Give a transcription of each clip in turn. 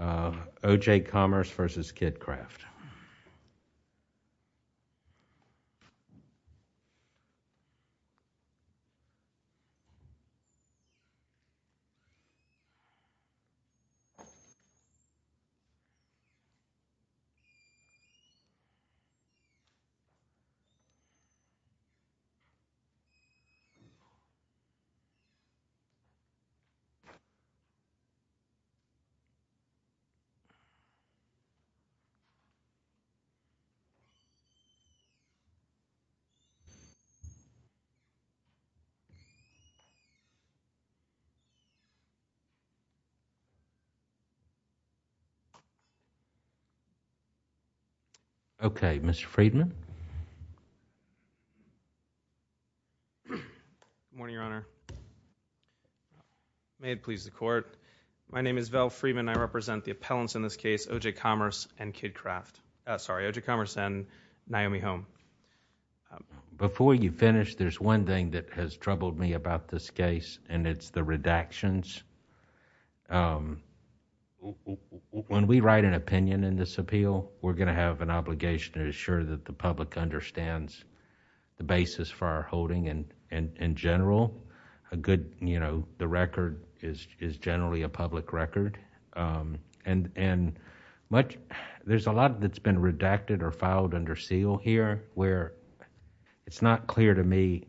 OJ Commerce v. KidKraft. Okay, Mr. Freedman? Good morning, Your Honor. My name is Val Freedman. I represent the appellants in this case, OJ Commerce and Naomi Holm. Before you finish, there's one thing that has troubled me about this case, and it's the redactions. When we write an opinion in this appeal, we're going to have an obligation to ensure that the public understands the basis for our holding in general. The record is generally a public record, and there's a lot that's been redacted or filed under seal here where it's not clear to me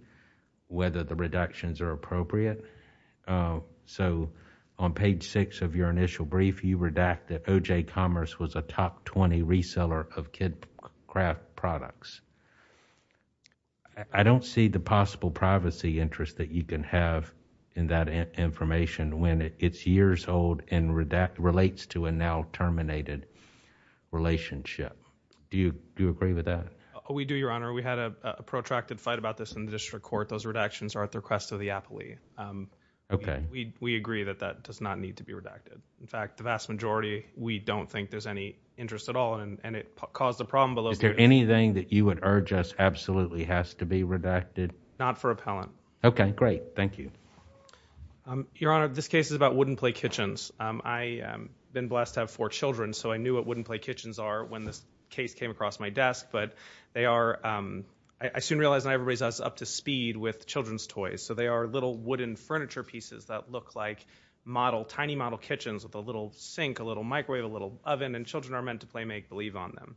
whether the reductions are appropriate. On page 6 of your initial brief, you redact that OJ Commerce was a top 20 reseller of KidKraft products. I don't see the possible privacy interest that you can have in that information when it's years old and relates to a now terminated relationship. Do you agree with that? We do, Your Honor. We had a protracted fight about this in the district court. Those redactions are at the request of the appellee. We agree that that does not need to be redacted. In fact, the vast majority, we don't think there's any interest at all, and it caused a problem below... Is there anything that you would urge us absolutely has to be redacted? Not for appellant. Okay. Great. Thank you. Your Honor, this case is about wooden play kitchens. I've been blessed to have four children, so I knew what wooden play kitchens are when this case came across my desk, but they are... I soon realized I was up to speed with children's toys, so they are little wooden furniture pieces that look like model, tiny model kitchens with a little sink, a little microwave, a little oven, and children are meant to play, make, believe on them.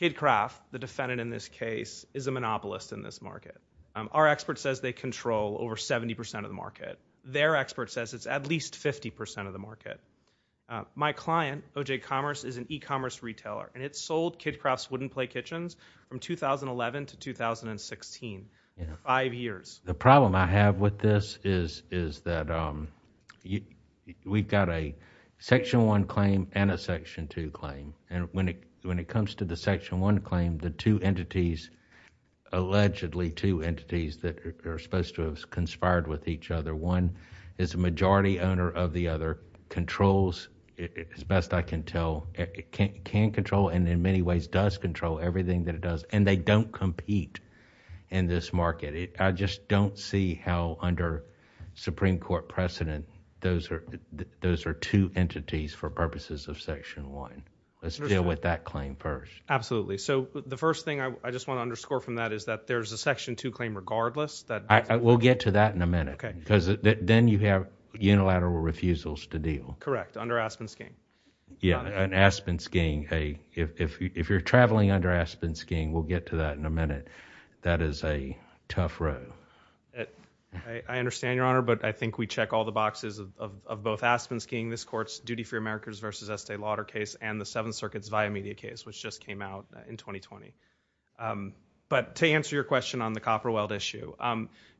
KidCraft, the defendant in this case, is a monopolist in this market. Our expert says they control over 70% of the market. Their expert says it's at least 50% of the market. My client, OJ Commerce, is an e-commerce retailer, and it sold KidCraft's wooden play kitchens from 2011 to 2016, five years. The problem I have with this is that we've got a Section 1 claim and a Section 2 claim, and when it comes to the Section 1 claim, the two entities, allegedly two entities that are supposed to have conspired with each other, one is a majority owner of the other, controls, as best I can tell, can control and in many ways does control everything that it does, and they don't compete in this market. I just don't see how under Supreme Court precedent, those are two entities for purposes of Section 1. Let's deal with that claim first. Absolutely. So the first thing I just want to underscore from that is that there's a Section 2 claim regardless. We'll get to that in a minute, because then you have unilateral refusals to deal. Correct, under Aspen skiing. Yeah, and Aspen skiing, if you're traveling under Aspen skiing, we'll get to that in a minute. That is a tough road. I understand, Your Honor, but I think we check all the boxes of both Aspen skiing, this court's Estee Lauder case, and the Seventh Circuit's Via Media case, which just came out in 2020. But to answer your question on the copper weld issue,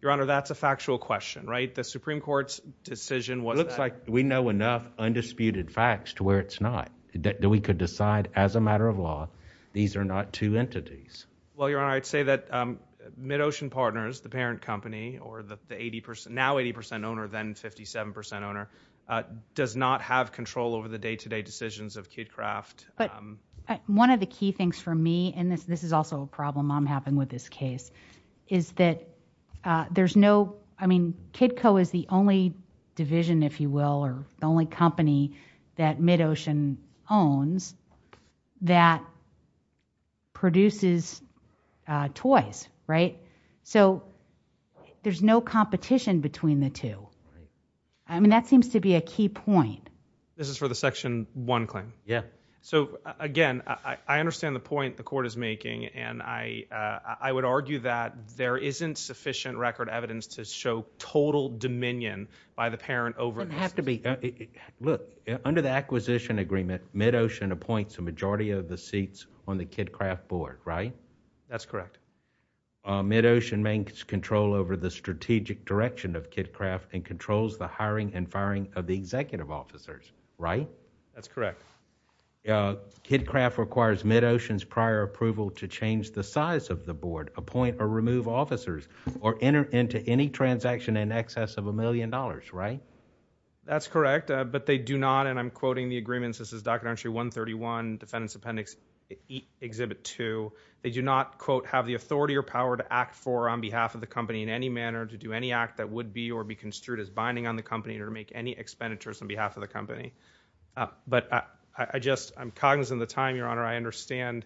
Your Honor, that's a factual question, right? The Supreme Court's decision was that- It looks like we know enough undisputed facts to where it's not, that we could decide as a matter of law, these are not two entities. Well, Your Honor, I'd say that MidOcean Partners, the parent company, or the now 80% owner, or then 57% owner, does not have control over the day-to-day decisions of KidKraft. One of the key things for me, and this is also a problem I'm having with this case, is that there's no, I mean, KidCo is the only division, if you will, or the only company that MidOcean owns that produces toys, right? So, there's no competition between the two. I mean, that seems to be a key point. This is for the Section 1 claim? Yeah. So, again, I understand the point the court is making, and I would argue that there isn't sufficient record evidence to show total dominion by the parent over- It doesn't have to be. Look, under the acquisition agreement, MidOcean appoints a majority of the seats on the KidKraft board, right? That's correct. MidOcean maintains control over the strategic direction of KidKraft and controls the hiring and firing of the executive officers, right? That's correct. Yeah. KidKraft requires MidOcean's prior approval to change the size of the board, appoint or remove officers, or enter into any transaction in excess of a million dollars, right? That's correct, but they do not, and I'm quoting the agreements, this is Documentary 131, Defendant's authority or power to act for or on behalf of the company in any manner, to do any act that would be or be construed as binding on the company, or to make any expenditures on behalf of the company. But I just, I'm cognizant of the time, Your Honor, I understand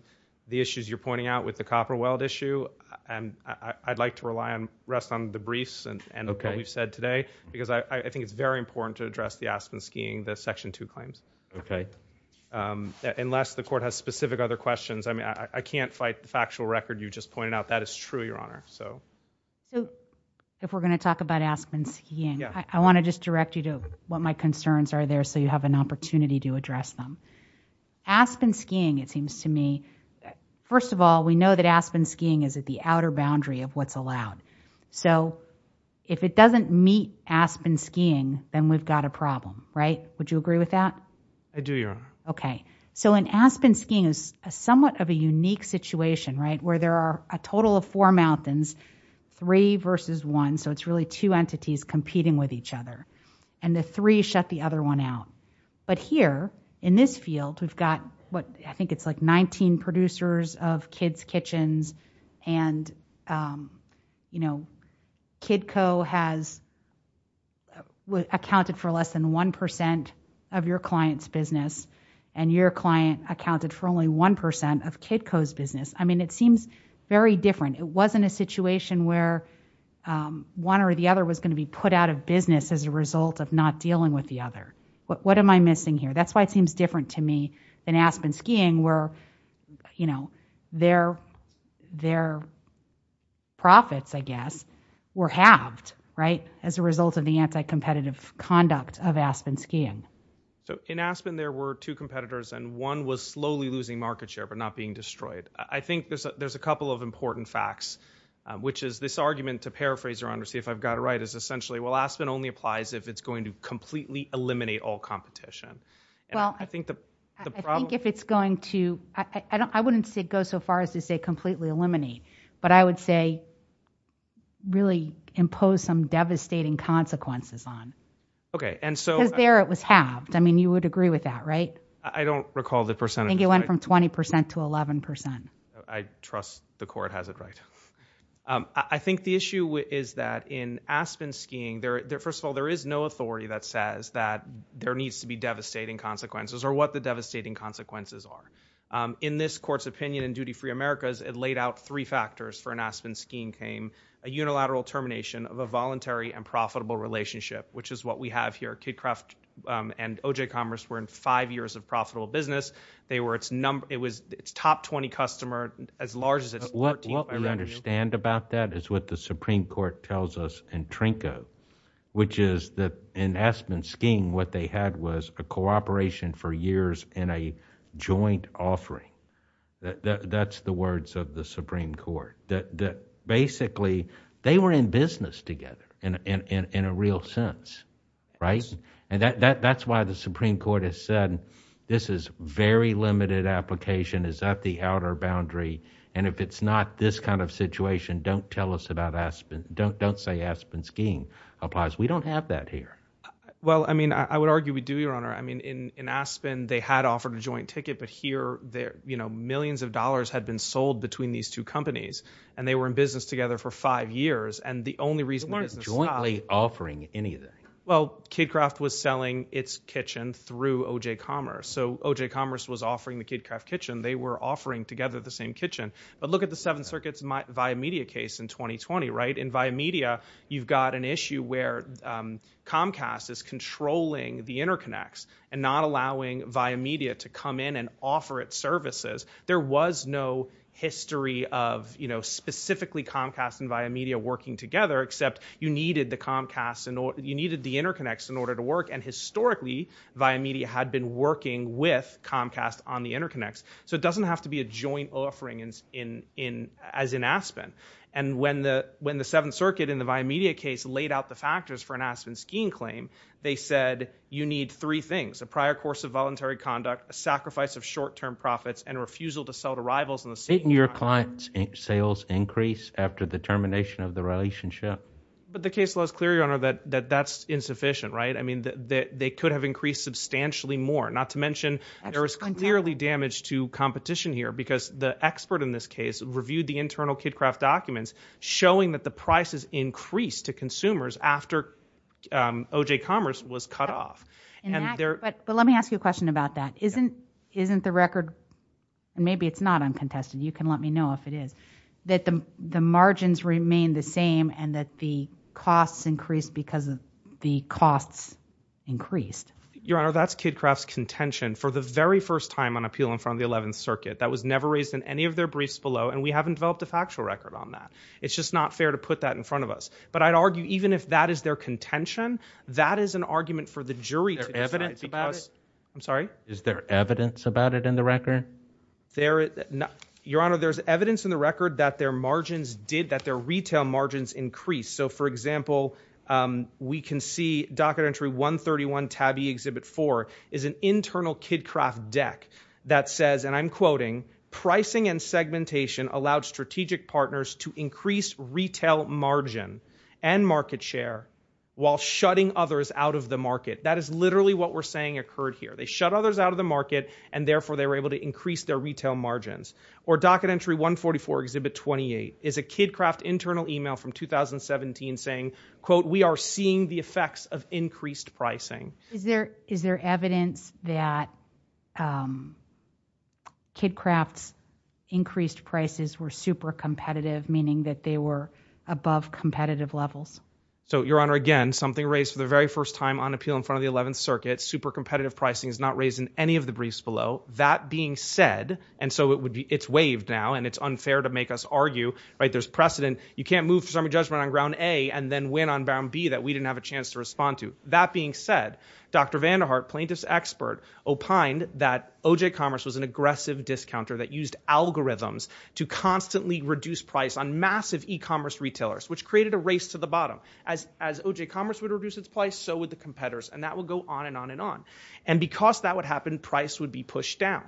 the issues you're pointing out with the copper weld issue, and I'd like to rely on, rest on the briefs and what we've said today, because I think it's very important to address the Aspen skiing, the Section 2 claims. Okay. Unless the court has specific other questions, I mean, I can't fight the factual record you just pointed out. That is true, Your Honor. So. So, if we're going to talk about Aspen skiing, I want to just direct you to what my concerns are there so you have an opportunity to address them. Aspen skiing, it seems to me, first of all, we know that Aspen skiing is at the outer boundary of what's allowed. So if it doesn't meet Aspen skiing, then we've got a problem, right? Would you agree with that? I do, Your Honor. Okay. So in Aspen skiing is somewhat of a unique situation, right, where there are a total of four mountains, three versus one, so it's really two entities competing with each other, and the three shut the other one out. But here, in this field, we've got what I think it's like 19 producers of kids' kitchens and, you know, Kidco has accounted for less than 1% of your client's business and your client accounted for only 1% of Kidco's business. I mean, it seems very different. It wasn't a situation where one or the other was going to be put out of business as a result of not dealing with the other. What am I missing here? That's why it seems different to me than Aspen skiing where, you know, their profits, I guess, were halved, right, as a result of the anti-competitive conduct of Aspen skiing. So in Aspen, there were two competitors and one was slowly losing market share but not being destroyed. I think there's a couple of important facts, which is this argument, to paraphrase, Your Honor, see if I've got it right, is essentially, well, Aspen only applies if it's going to Well, I think if it's going to, I wouldn't say go so far as to say completely eliminate, but I would say really impose some devastating consequences on. Okay. Because there it was halved. I mean, you would agree with that, right? I don't recall the percentage. I think it went from 20% to 11%. I trust the court has it right. I think the issue is that in Aspen skiing, first of all, there is no authority that says that there needs to be devastating consequences or what the devastating consequences are. In this court's opinion in Duty Free America, it laid out three factors for an Aspen skiing claim, a unilateral termination of a voluntary and profitable relationship, which is what we have here. KidCraft and OJ Commerce were in five years of profitable business. They were its top 20 customer, as large as its 13th by revenue. What we understand about that is what the Supreme Court tells us in Trinco, which is that in Aspen skiing, what they had was a cooperation for years in a joint offering. That's the words of the Supreme Court. Basically, they were in business together in a real sense, right? That's why the Supreme Court has said this is very limited application, is at the outer boundary and if it's not this kind of situation, don't tell us about Aspen, don't say Aspen skiing applies. We don't have that here. Well, I mean, I would argue we do, Your Honor. I mean, in Aspen, they had offered a joint ticket, but here, you know, millions of dollars had been sold between these two companies and they were in business together for five years and the only reason they're not jointly offering anything. Well, KidCraft was selling its kitchen through OJ Commerce. So OJ Commerce was offering the KidCraft kitchen. They were offering together the same kitchen. But look at the seven circuits via media case in 2020, right? In via media, you've got an issue where Comcast is controlling the interconnects and not allowing via media to come in and offer its services. There was no history of, you know, specifically Comcast and via media working together, except you needed the Comcast and you needed the interconnects in order to work. And historically, via media had been working with Comcast on the interconnects. So it doesn't have to be a joint offering as in Aspen. And when the when the seventh circuit in the via media case laid out the factors for an Aspen skiing claim, they said you need three things, a prior course of voluntary conduct, a sacrifice of short term profits and refusal to sell to rivals in the same year. Clients sales increase after the termination of the relationship. But the case was clear, your honor, that that's insufficient, right? I mean, they could have increased substantially more, not to mention there is clearly damage to competition here because the expert in this case reviewed the internal KidKraft documents showing that the prices increased to consumers after O.J. Commerce was cut off. And there. But let me ask you a question about that isn't isn't the record and maybe it's not uncontested. You can let me know if it is that the margins remain the same and that the costs increased because of the costs increased your honor. That's KidKraft contention for the very first time on appeal in front of the 11th circuit that was never raised in any of their briefs below. And we haven't developed a factual record on that. It's just not fair to put that in front of us. But I'd argue even if that is their contention, that is an argument for the jury evidence about it. I'm sorry. Is there evidence about it in the record there? Your honor, there's evidence in the record that their margins did that their retail margins increase. So, for example, we can see docket entry 131 tabby exhibit four is an internal KidKraft deck that says and I'm quoting pricing and segmentation allowed strategic partners to increase retail margin and market share while shutting others out of the market. That is literally what we're saying occurred here. They shut others out of the market and therefore they were able to increase their retail margins or docket entry 144 exhibit 28 is a KidKraft internal email from 2017 saying, quote, We are seeing the effects of increased pricing. Is there is there evidence that KidKraft's increased prices were super competitive, meaning that they were above competitive levels? So your honor, again, something raised for the very first time on appeal in front of the 11th circuit. Super competitive pricing is not raised in any of the briefs below that being said. And so it's waived now and it's unfair to make us argue, right? There's precedent. You can't move from a judgment on ground A and then win on Bound B that we didn't have a chance to respond to. That being said, Dr. Vander Hart plaintiffs expert opined that OJ Commerce was an aggressive discounter that used algorithms to constantly reduce price on massive e-commerce retailers, which created a race to the bottom as as OJ Commerce would reduce its price. So would the competitors. And that will go on and on and on. And because that would happen, price would be pushed down.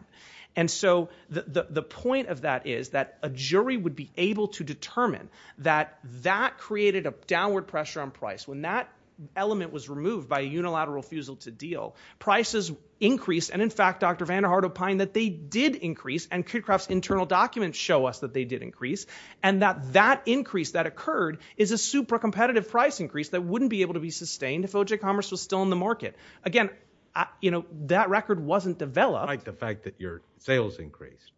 And so the point of that is that a jury would be able to determine that that created a downward pressure on price. When that element was removed by a unilateral refusal to deal, prices increased. And in fact, Dr. Vander Hart opined that they did increase and KidKraft's internal documents show us that they did increase and that that increase that occurred is a super competitive price increase that wouldn't be able to be sustained if OJ Commerce was still in the market. Again, you know, that record wasn't developed. Despite the fact that your sales increased.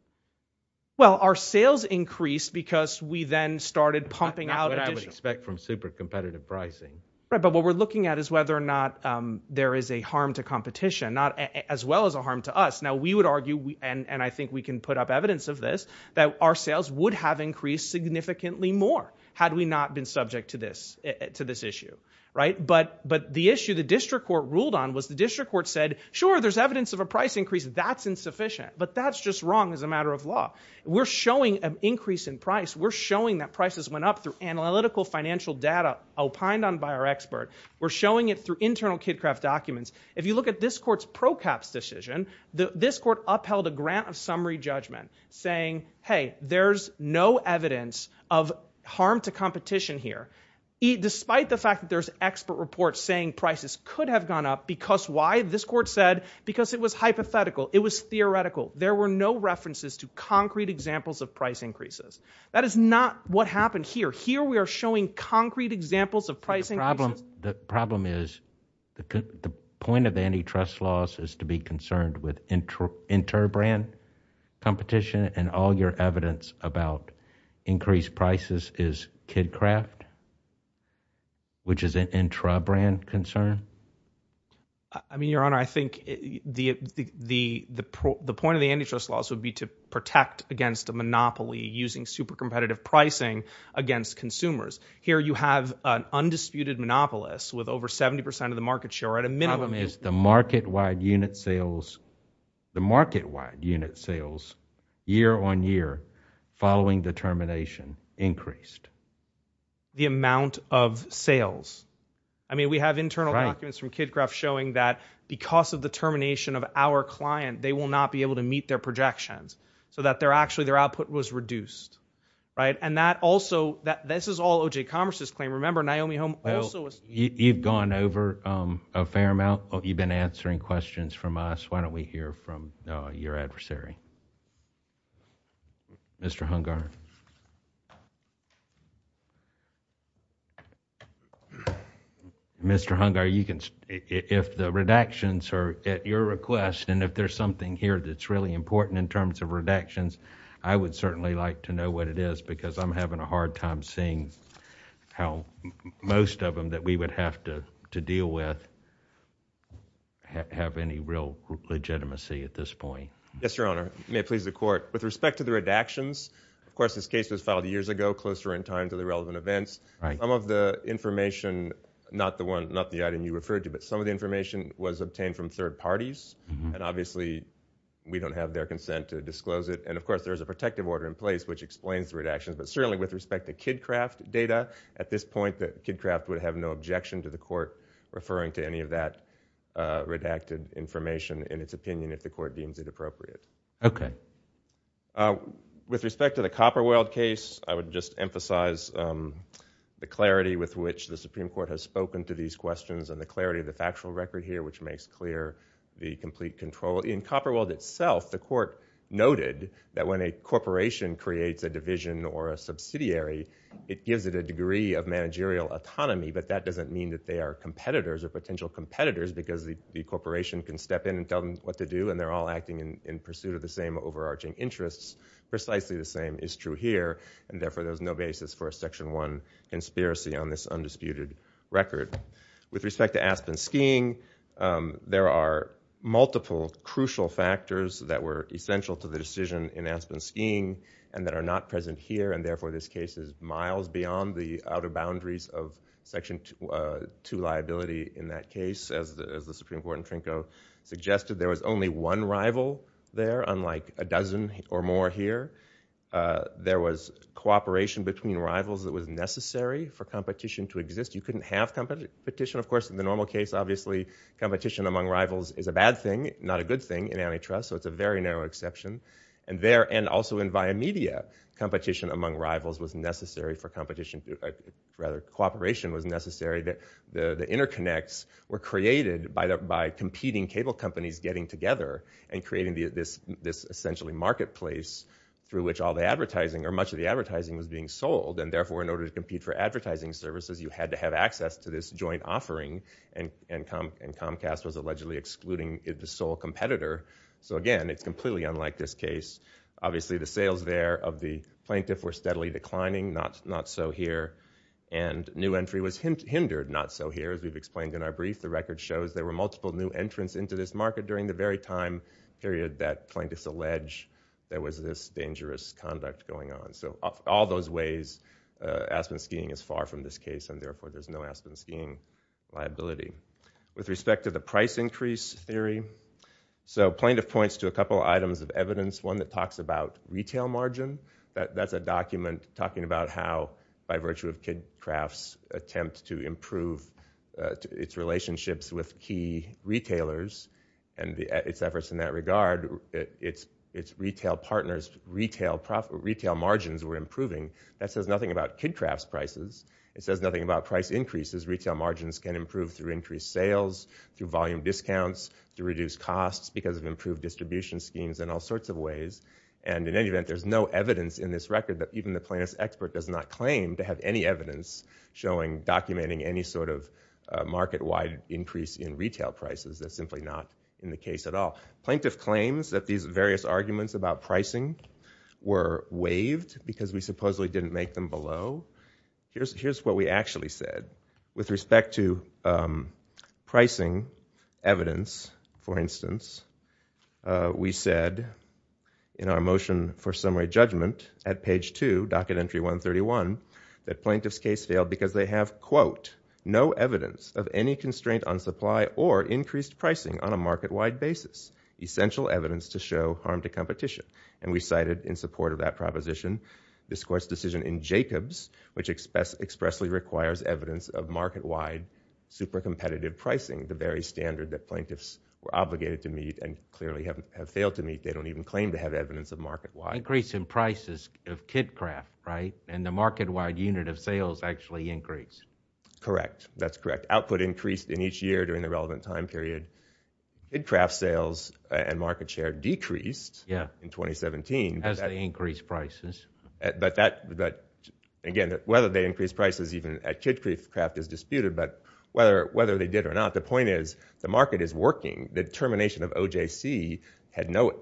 Well, our sales increased because we then started pumping out what I would expect from super competitive pricing. Right. But what we're looking at is whether or not there is a harm to competition, not as well as a harm to us. Now, we would argue and I think we can put up evidence of this, that our sales would have increased significantly more had we not been subject to this to this issue. Right. But but the issue the district court ruled on was the district court said, sure, there's evidence of a price increase. That's insufficient. But that's just wrong as a matter of law. We're showing an increase in price. We're showing that prices went up through analytical financial data opined on by our expert. We're showing it through internal KidKraft documents. If you look at this court's pro caps decision, this court upheld a grant of summary judgment saying, hey, there's no evidence of harm to competition here, despite the fact that there's expert reports saying prices could have gone up. Because why? This court said because it was hypothetical. It was theoretical. There were no references to concrete examples of price increases. That is not what happened here. Here we are showing concrete examples of pricing. Problem. The problem is the point of antitrust laws is to be concerned with inter brand competition and all your evidence about increased prices is KidKraft? Which is an intra brand concern? I mean, Your Honor, I think the point of the antitrust laws would be to protect against a monopoly using super competitive pricing against consumers. Here you have an undisputed monopolist with over 70 percent of the market share at a minimum. The problem is the market wide unit sales, the market wide unit sales year on year following the termination increased. The amount of sales. I mean, we have internal documents from KidKraft showing that because of the termination of our client, they will not be able to meet their projections. So that they're actually their output was reduced, right? And that also that this is all OJ Commerce's claim. I remember Naomi Holm also you've gone over a fair amount of you've been answering questions from us. Why don't we hear from your adversary? Mr. Hungar. Mr. Hungar, you can if the redactions are at your request, and if there's something here that's really important in terms of redactions, I would certainly like to know what it is because I'm having a hard time seeing how most of them that we would have to deal with have any real legitimacy at this point. Yes, Your Honor. May it please the court. With respect to the redactions, of course, this case was filed years ago, closer in time to the relevant events. Some of the information, not the one, not the item you referred to, but some of the information was obtained from third parties, and obviously we don't have their consent to disclose it. And, of course, there's a protective order in place which explains the redactions. But certainly with respect to KidCraft data, at this point KidCraft would have no objection to the court referring to any of that redacted information in its opinion if the court deems it appropriate. With respect to the Copperweld case, I would just emphasize the clarity with which the Supreme Court has spoken to these questions and the clarity of the factual record here which makes clear the complete control. In Copperweld itself, the court noted that when a corporation creates a division or a subsidiary, it gives it a degree of managerial autonomy, but that doesn't mean that they are competitors or potential competitors because the corporation can step in and tell them what to do and they're all acting in pursuit of the same overarching interests. Precisely the same is true here, and therefore there's no basis for a Section 1 conspiracy on this undisputed record. With respect to Aspen Skiing, there are multiple crucial factors that were essential to the decision in Aspen Skiing and that are not present here, and therefore this case is miles beyond the outer boundaries of Section 2 liability in that case. As the Supreme Court in Trinko suggested, there was only one rival there, unlike a dozen or more here. There was cooperation between rivals that was necessary for competition to exist. You couldn't have competition, of course, in the normal case, obviously, competition among rivals is a bad thing, not a good thing in antitrust, so it's a very narrow exception. And also in via media, competition among rivals was necessary for competition, rather cooperation was necessary that the interconnects were created by competing cable companies getting together and creating this essentially marketplace through which all the advertising or much of the advertising was being sold, and therefore in order to compete for advertising services, you had to have access to this joint offering, and Comcast was allegedly excluding the sole competitor. So again, it's completely unlike this case. Obviously, the sales there of the plaintiff were steadily declining, not so here, and new entry was hindered, not so here, as we've explained in our brief. The record shows there were multiple new entrants into this market during the very time period that plaintiffs allege there was this dangerous conduct going on. So all those ways, Aspen skiing is far from this case, and therefore there's no Aspen skiing liability. With respect to the price increase theory, so plaintiff points to a couple items of evidence, one that talks about retail margin. That's a document talking about how by virtue of Kidd Craft's attempt to improve its relationships with key retailers and its efforts in that regard, its retail partners' retail margins were improving. That says nothing about Kidd Craft's prices. It says nothing about price increases. Retail margins can improve through increased sales, through volume discounts, through reduced costs because of improved distribution schemes and all sorts of ways. And in any event, there's no evidence in this record that even the plaintiff's expert does not claim to have any evidence showing, documenting any sort of market-wide increase in retail prices. That's simply not in the case at all. Plaintiff claims that these various arguments about pricing were waived because we supposedly didn't make them below. Here's what we actually said. With respect to pricing evidence, for instance, we said in our motion for summary judgment at page 2, docket entry 131, that plaintiff's case failed because they have, quote, no evidence of any constraint on supply or increased pricing on a market-wide basis, essential evidence to show harm to competition. And we cited in support of that proposition this Court's decision in Jacobs, which expressly requires evidence of market-wide super competitive pricing, the very standard that plaintiffs were obligated to meet and clearly have failed to meet. They don't even claim to have evidence of market-wide. Increase in prices of KidCraft, right? And the market-wide unit of sales actually increased. Correct. That's correct. Output increased in each year during the relevant time period. KidCraft sales and market share decreased in 2017. As they increased prices. But again, whether they increased prices even at KidCraft is disputed, but whether they did or not, the point is the market is working. The termination of OJC had no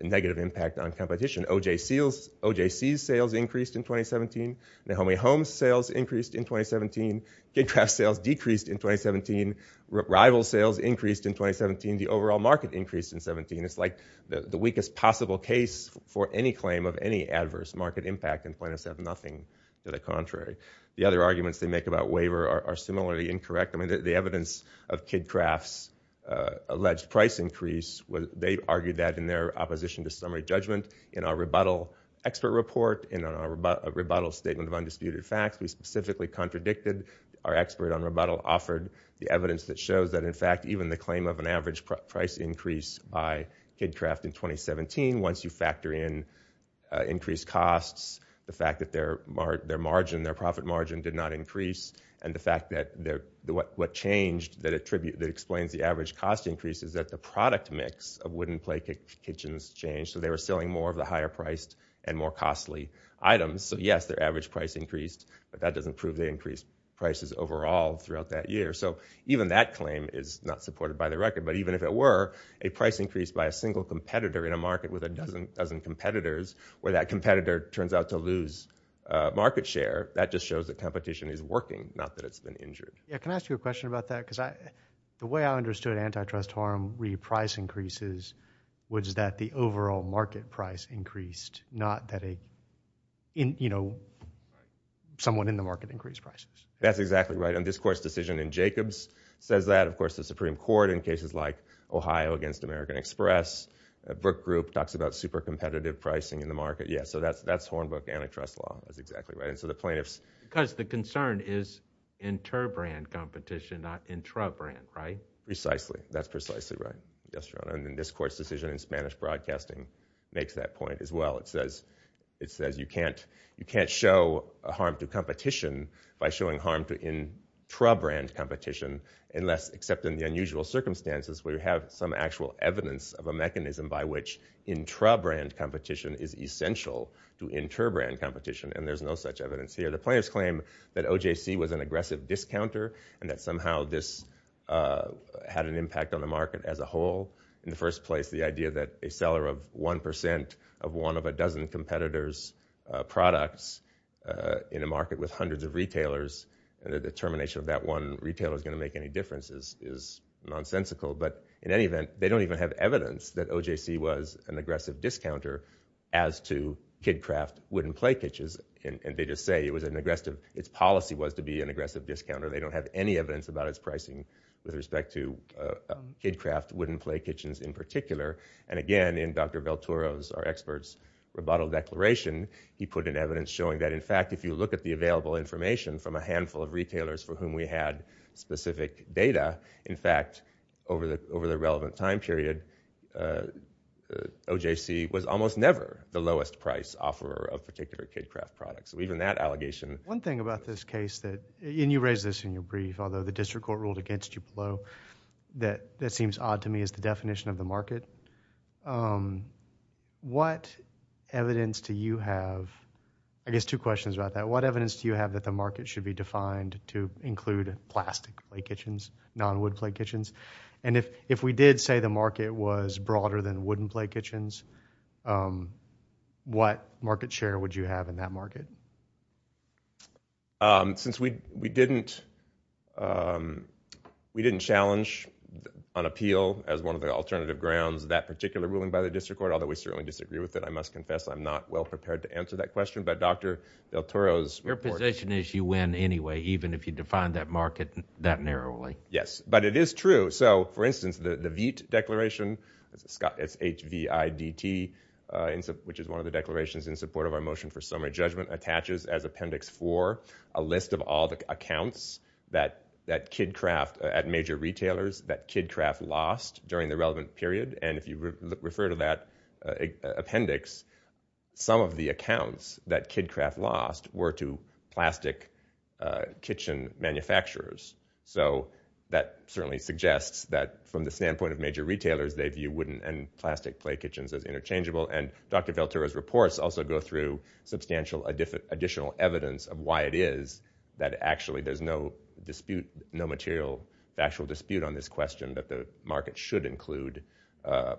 negative impact on competition. OJC's sales increased in 2017. Nahomi Holmes' sales increased in 2017. KidCraft's sales decreased in 2017. Rival's sales increased in 2017. The overall market increased in 2017. It's like the weakest possible case for any claim of any adverse market impact and plaintiffs have nothing to the contrary. The other arguments they make about waiver are similarly incorrect. The evidence of KidCraft's alleged price increase, they argued that in their opposition to summary judgment in our rebuttal expert report, in our rebuttal statement of undisputed facts, we specifically contradicted our expert on rebuttal offered the evidence that shows that in fact even the claim of an average price increase by KidCraft in 2017, once you factor in increased costs, the fact that their margin, their profit margin did not increase, and the fact that what changed that explains the average cost increase is that the product mix of wooden plate kitchens changed, so they were selling more of the higher priced and more costly items, so yes, their average price increased, but that doesn't prove they increased prices overall throughout that year. So even that claim is not supported by the record, but even if it were, a price increase by a single competitor in a market with a dozen competitors, where that competitor turns out to lose market share, that just shows that competition is working, not that it's been injured. Yeah, can I ask you a question about that, because the way I understood antitrust harm re-price increases was that the overall market price increased, not that a, you know, someone in the market increased prices. That's exactly right, and this court's decision in Jacobs says that, of course the Supreme Court in cases like Ohio against American Express, Brook Group talks about super competitive pricing in the market, yeah, so that's Hornbook antitrust law, that's exactly right, and so the plaintiffs. Because the concern is inter-brand competition, not intra-brand, right? Precisely, that's precisely right, yes, your honor, and this court's decision in Spanish Broadcasting makes that point as well, it says you can't show a harm to competition by showing harm to intra-brand competition unless, except in the unusual circumstances where you have some actual evidence of a mechanism by which intra-brand competition is essential to inter-brand competition, and there's no such evidence here. The plaintiffs claim that OJC was an aggressive discounter, and that somehow this had an impact on the market as a whole, in the first place, the idea that a seller of one percent of one of a dozen competitors' products in a market with hundreds of retailers, the determination of which of that one retailer is going to make any difference is nonsensical, but in any event, they don't even have evidence that OJC was an aggressive discounter as to KidKraft wooden play kitchens, and they just say it was an aggressive, its policy was to be an aggressive discounter, they don't have any evidence about its pricing with respect to KidKraft wooden play kitchens in particular, and again, in Dr. Beltouros, our expert's rebuttal declaration, he put in evidence showing that, in fact, if you look at the available information from a handful of retailers for whom we had specific data, in fact, over the relevant time period, OJC was almost never the lowest price offer of particular KidKraft products. So even that allegation... One thing about this case that, and you raised this in your brief, although the district court ruled against you below, that seems odd to me, is the definition of the market. What evidence do you have, I guess two questions about that, what evidence do you have that the market should be defined to include plastic play kitchens, non-wood play kitchens, and if we did say the market was broader than wooden play kitchens, what market share would you have in that market? Since we didn't challenge on appeal, as one of the alternative grounds, that particular ruling by the district court, although we certainly disagree with it, I must confess I'm not well prepared to answer that question, but Dr. Beltouros... Your position is you win anyway, even if you define that market that narrowly. Yes, but it is true. So for instance, the VEET declaration, it's H-V-I-D-T, which is one of the declarations in support of our motion for summary judgment, attaches as appendix four a list of all the accounts that KidKraft, at major retailers, that KidKraft lost during the relevant period, and if you refer to that appendix, some of the accounts that KidKraft lost were to plastic kitchen manufacturers. So that certainly suggests that from the standpoint of major retailers, they view wooden and plastic play kitchens as interchangeable, and Dr. Beltouros' reports also go through substantial additional evidence of why it is that actually there's no dispute, no material factual dispute on this question, that the market should include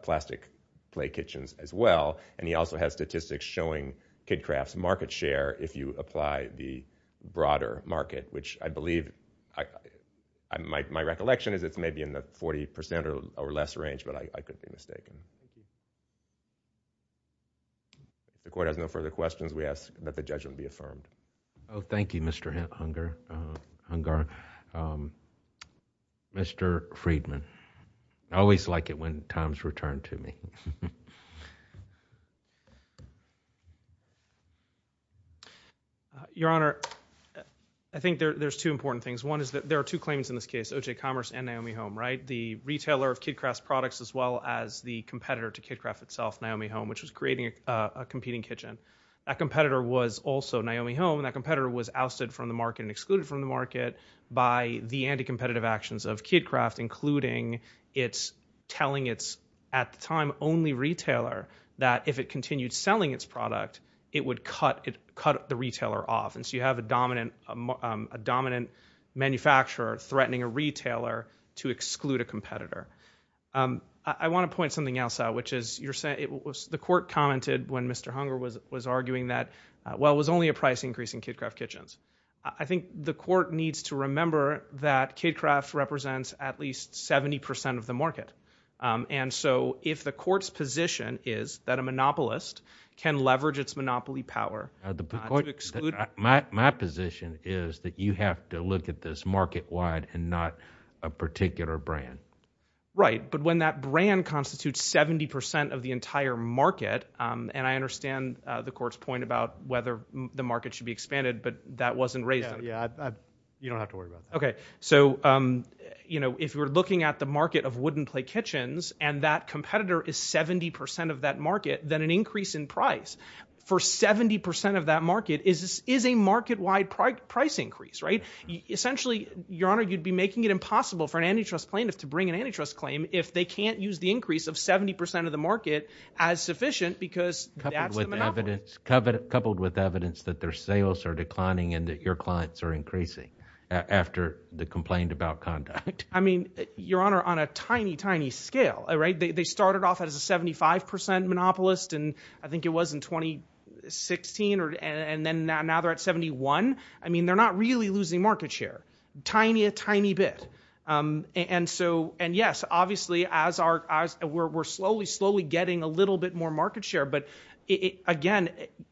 plastic play kitchens as well, and he also has statistics showing KidKraft's market share if you apply the broader market, which I believe, my recollection is it's maybe in the 40% or less range, but I could be mistaken. If the court has no further questions, we ask that the judgment be affirmed. Oh, thank you, Mr. Hungar. Mr. Friedman, I always like it when times return to me. Your Honor, I think there's two important things. One is that there are two claims in this case, OJ Commerce and Naomi Home, right? The retailer of KidKraft's products as well as the competitor to KidKraft itself, Naomi Home, which was creating a competing kitchen. That competitor was also Naomi Home, and that competitor was ousted from the market and excluded from the market by the anti-competitive actions of KidKraft, including its telling its, at the time, only retailer that if it continued selling its product, it would cut the retailer off. And so you have a dominant manufacturer threatening a retailer to exclude a competitor. I want to point something else out, which is the court commented when Mr. Hungar was arguing that, well, it was only a price increase in KidKraft kitchens. I think the court needs to remember that KidKraft represents at least 70% of the market. And so if the court's position is that a monopolist can leverage its monopoly power to exclude – My position is that you have to look at this market-wide and not a particular brand. Right. But when that brand constitutes 70% of the entire market, and I understand the court's point about whether the market should be expanded, but that wasn't raised – Yeah, yeah. You don't have to worry about that. Okay. So, you know, if we're looking at the market of wooden plate kitchens and that competitor is 70% of that market, then an increase in price for 70% of that market is a market-wide price increase, right? Essentially, Your Honor, you'd be making it impossible for an antitrust plaintiff to bring an antitrust claim if they can't use the increase of 70% of the market as sufficient because that's the monopoly. Coupled with evidence that their sales are declining and that your clients are increasing after the complaint about conduct. I mean, Your Honor, on a tiny, tiny scale, right, they started off as a 75% monopolist and I think it was in 2016, and then now they're at 71. I mean, they're not really losing market share, tiny, a tiny bit. And so, and yes, obviously, as we're slowly, slowly getting a little bit more market share, but again,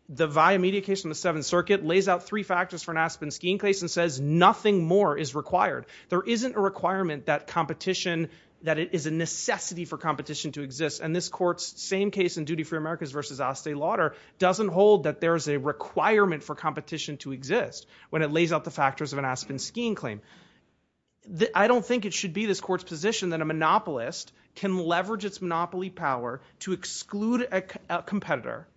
the via media case from the Seventh Circuit lays out three factors for an Aspen skiing case and says nothing more is required. There isn't a requirement that competition, that it is a necessity for competition to exist and this court's same case in Duty Free America's versus Aste Lauder doesn't hold that there is a requirement for competition to exist when it lays out the factors of an Aspen skiing claim. I don't think it should be this court's position that a monopolist can leverage its monopoly power to exclude a competitor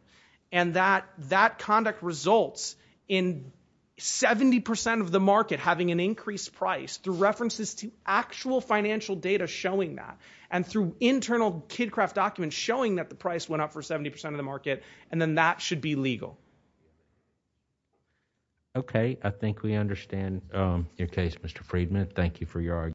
and that that conduct results in 70% of the market having an increased price through references to actual financial data showing that and through internal KidCraft documents showing that the price went up for 70% of the market and then that should be legal. Okay, I think we understand your case, Mr. Friedman. Thank you for your argument.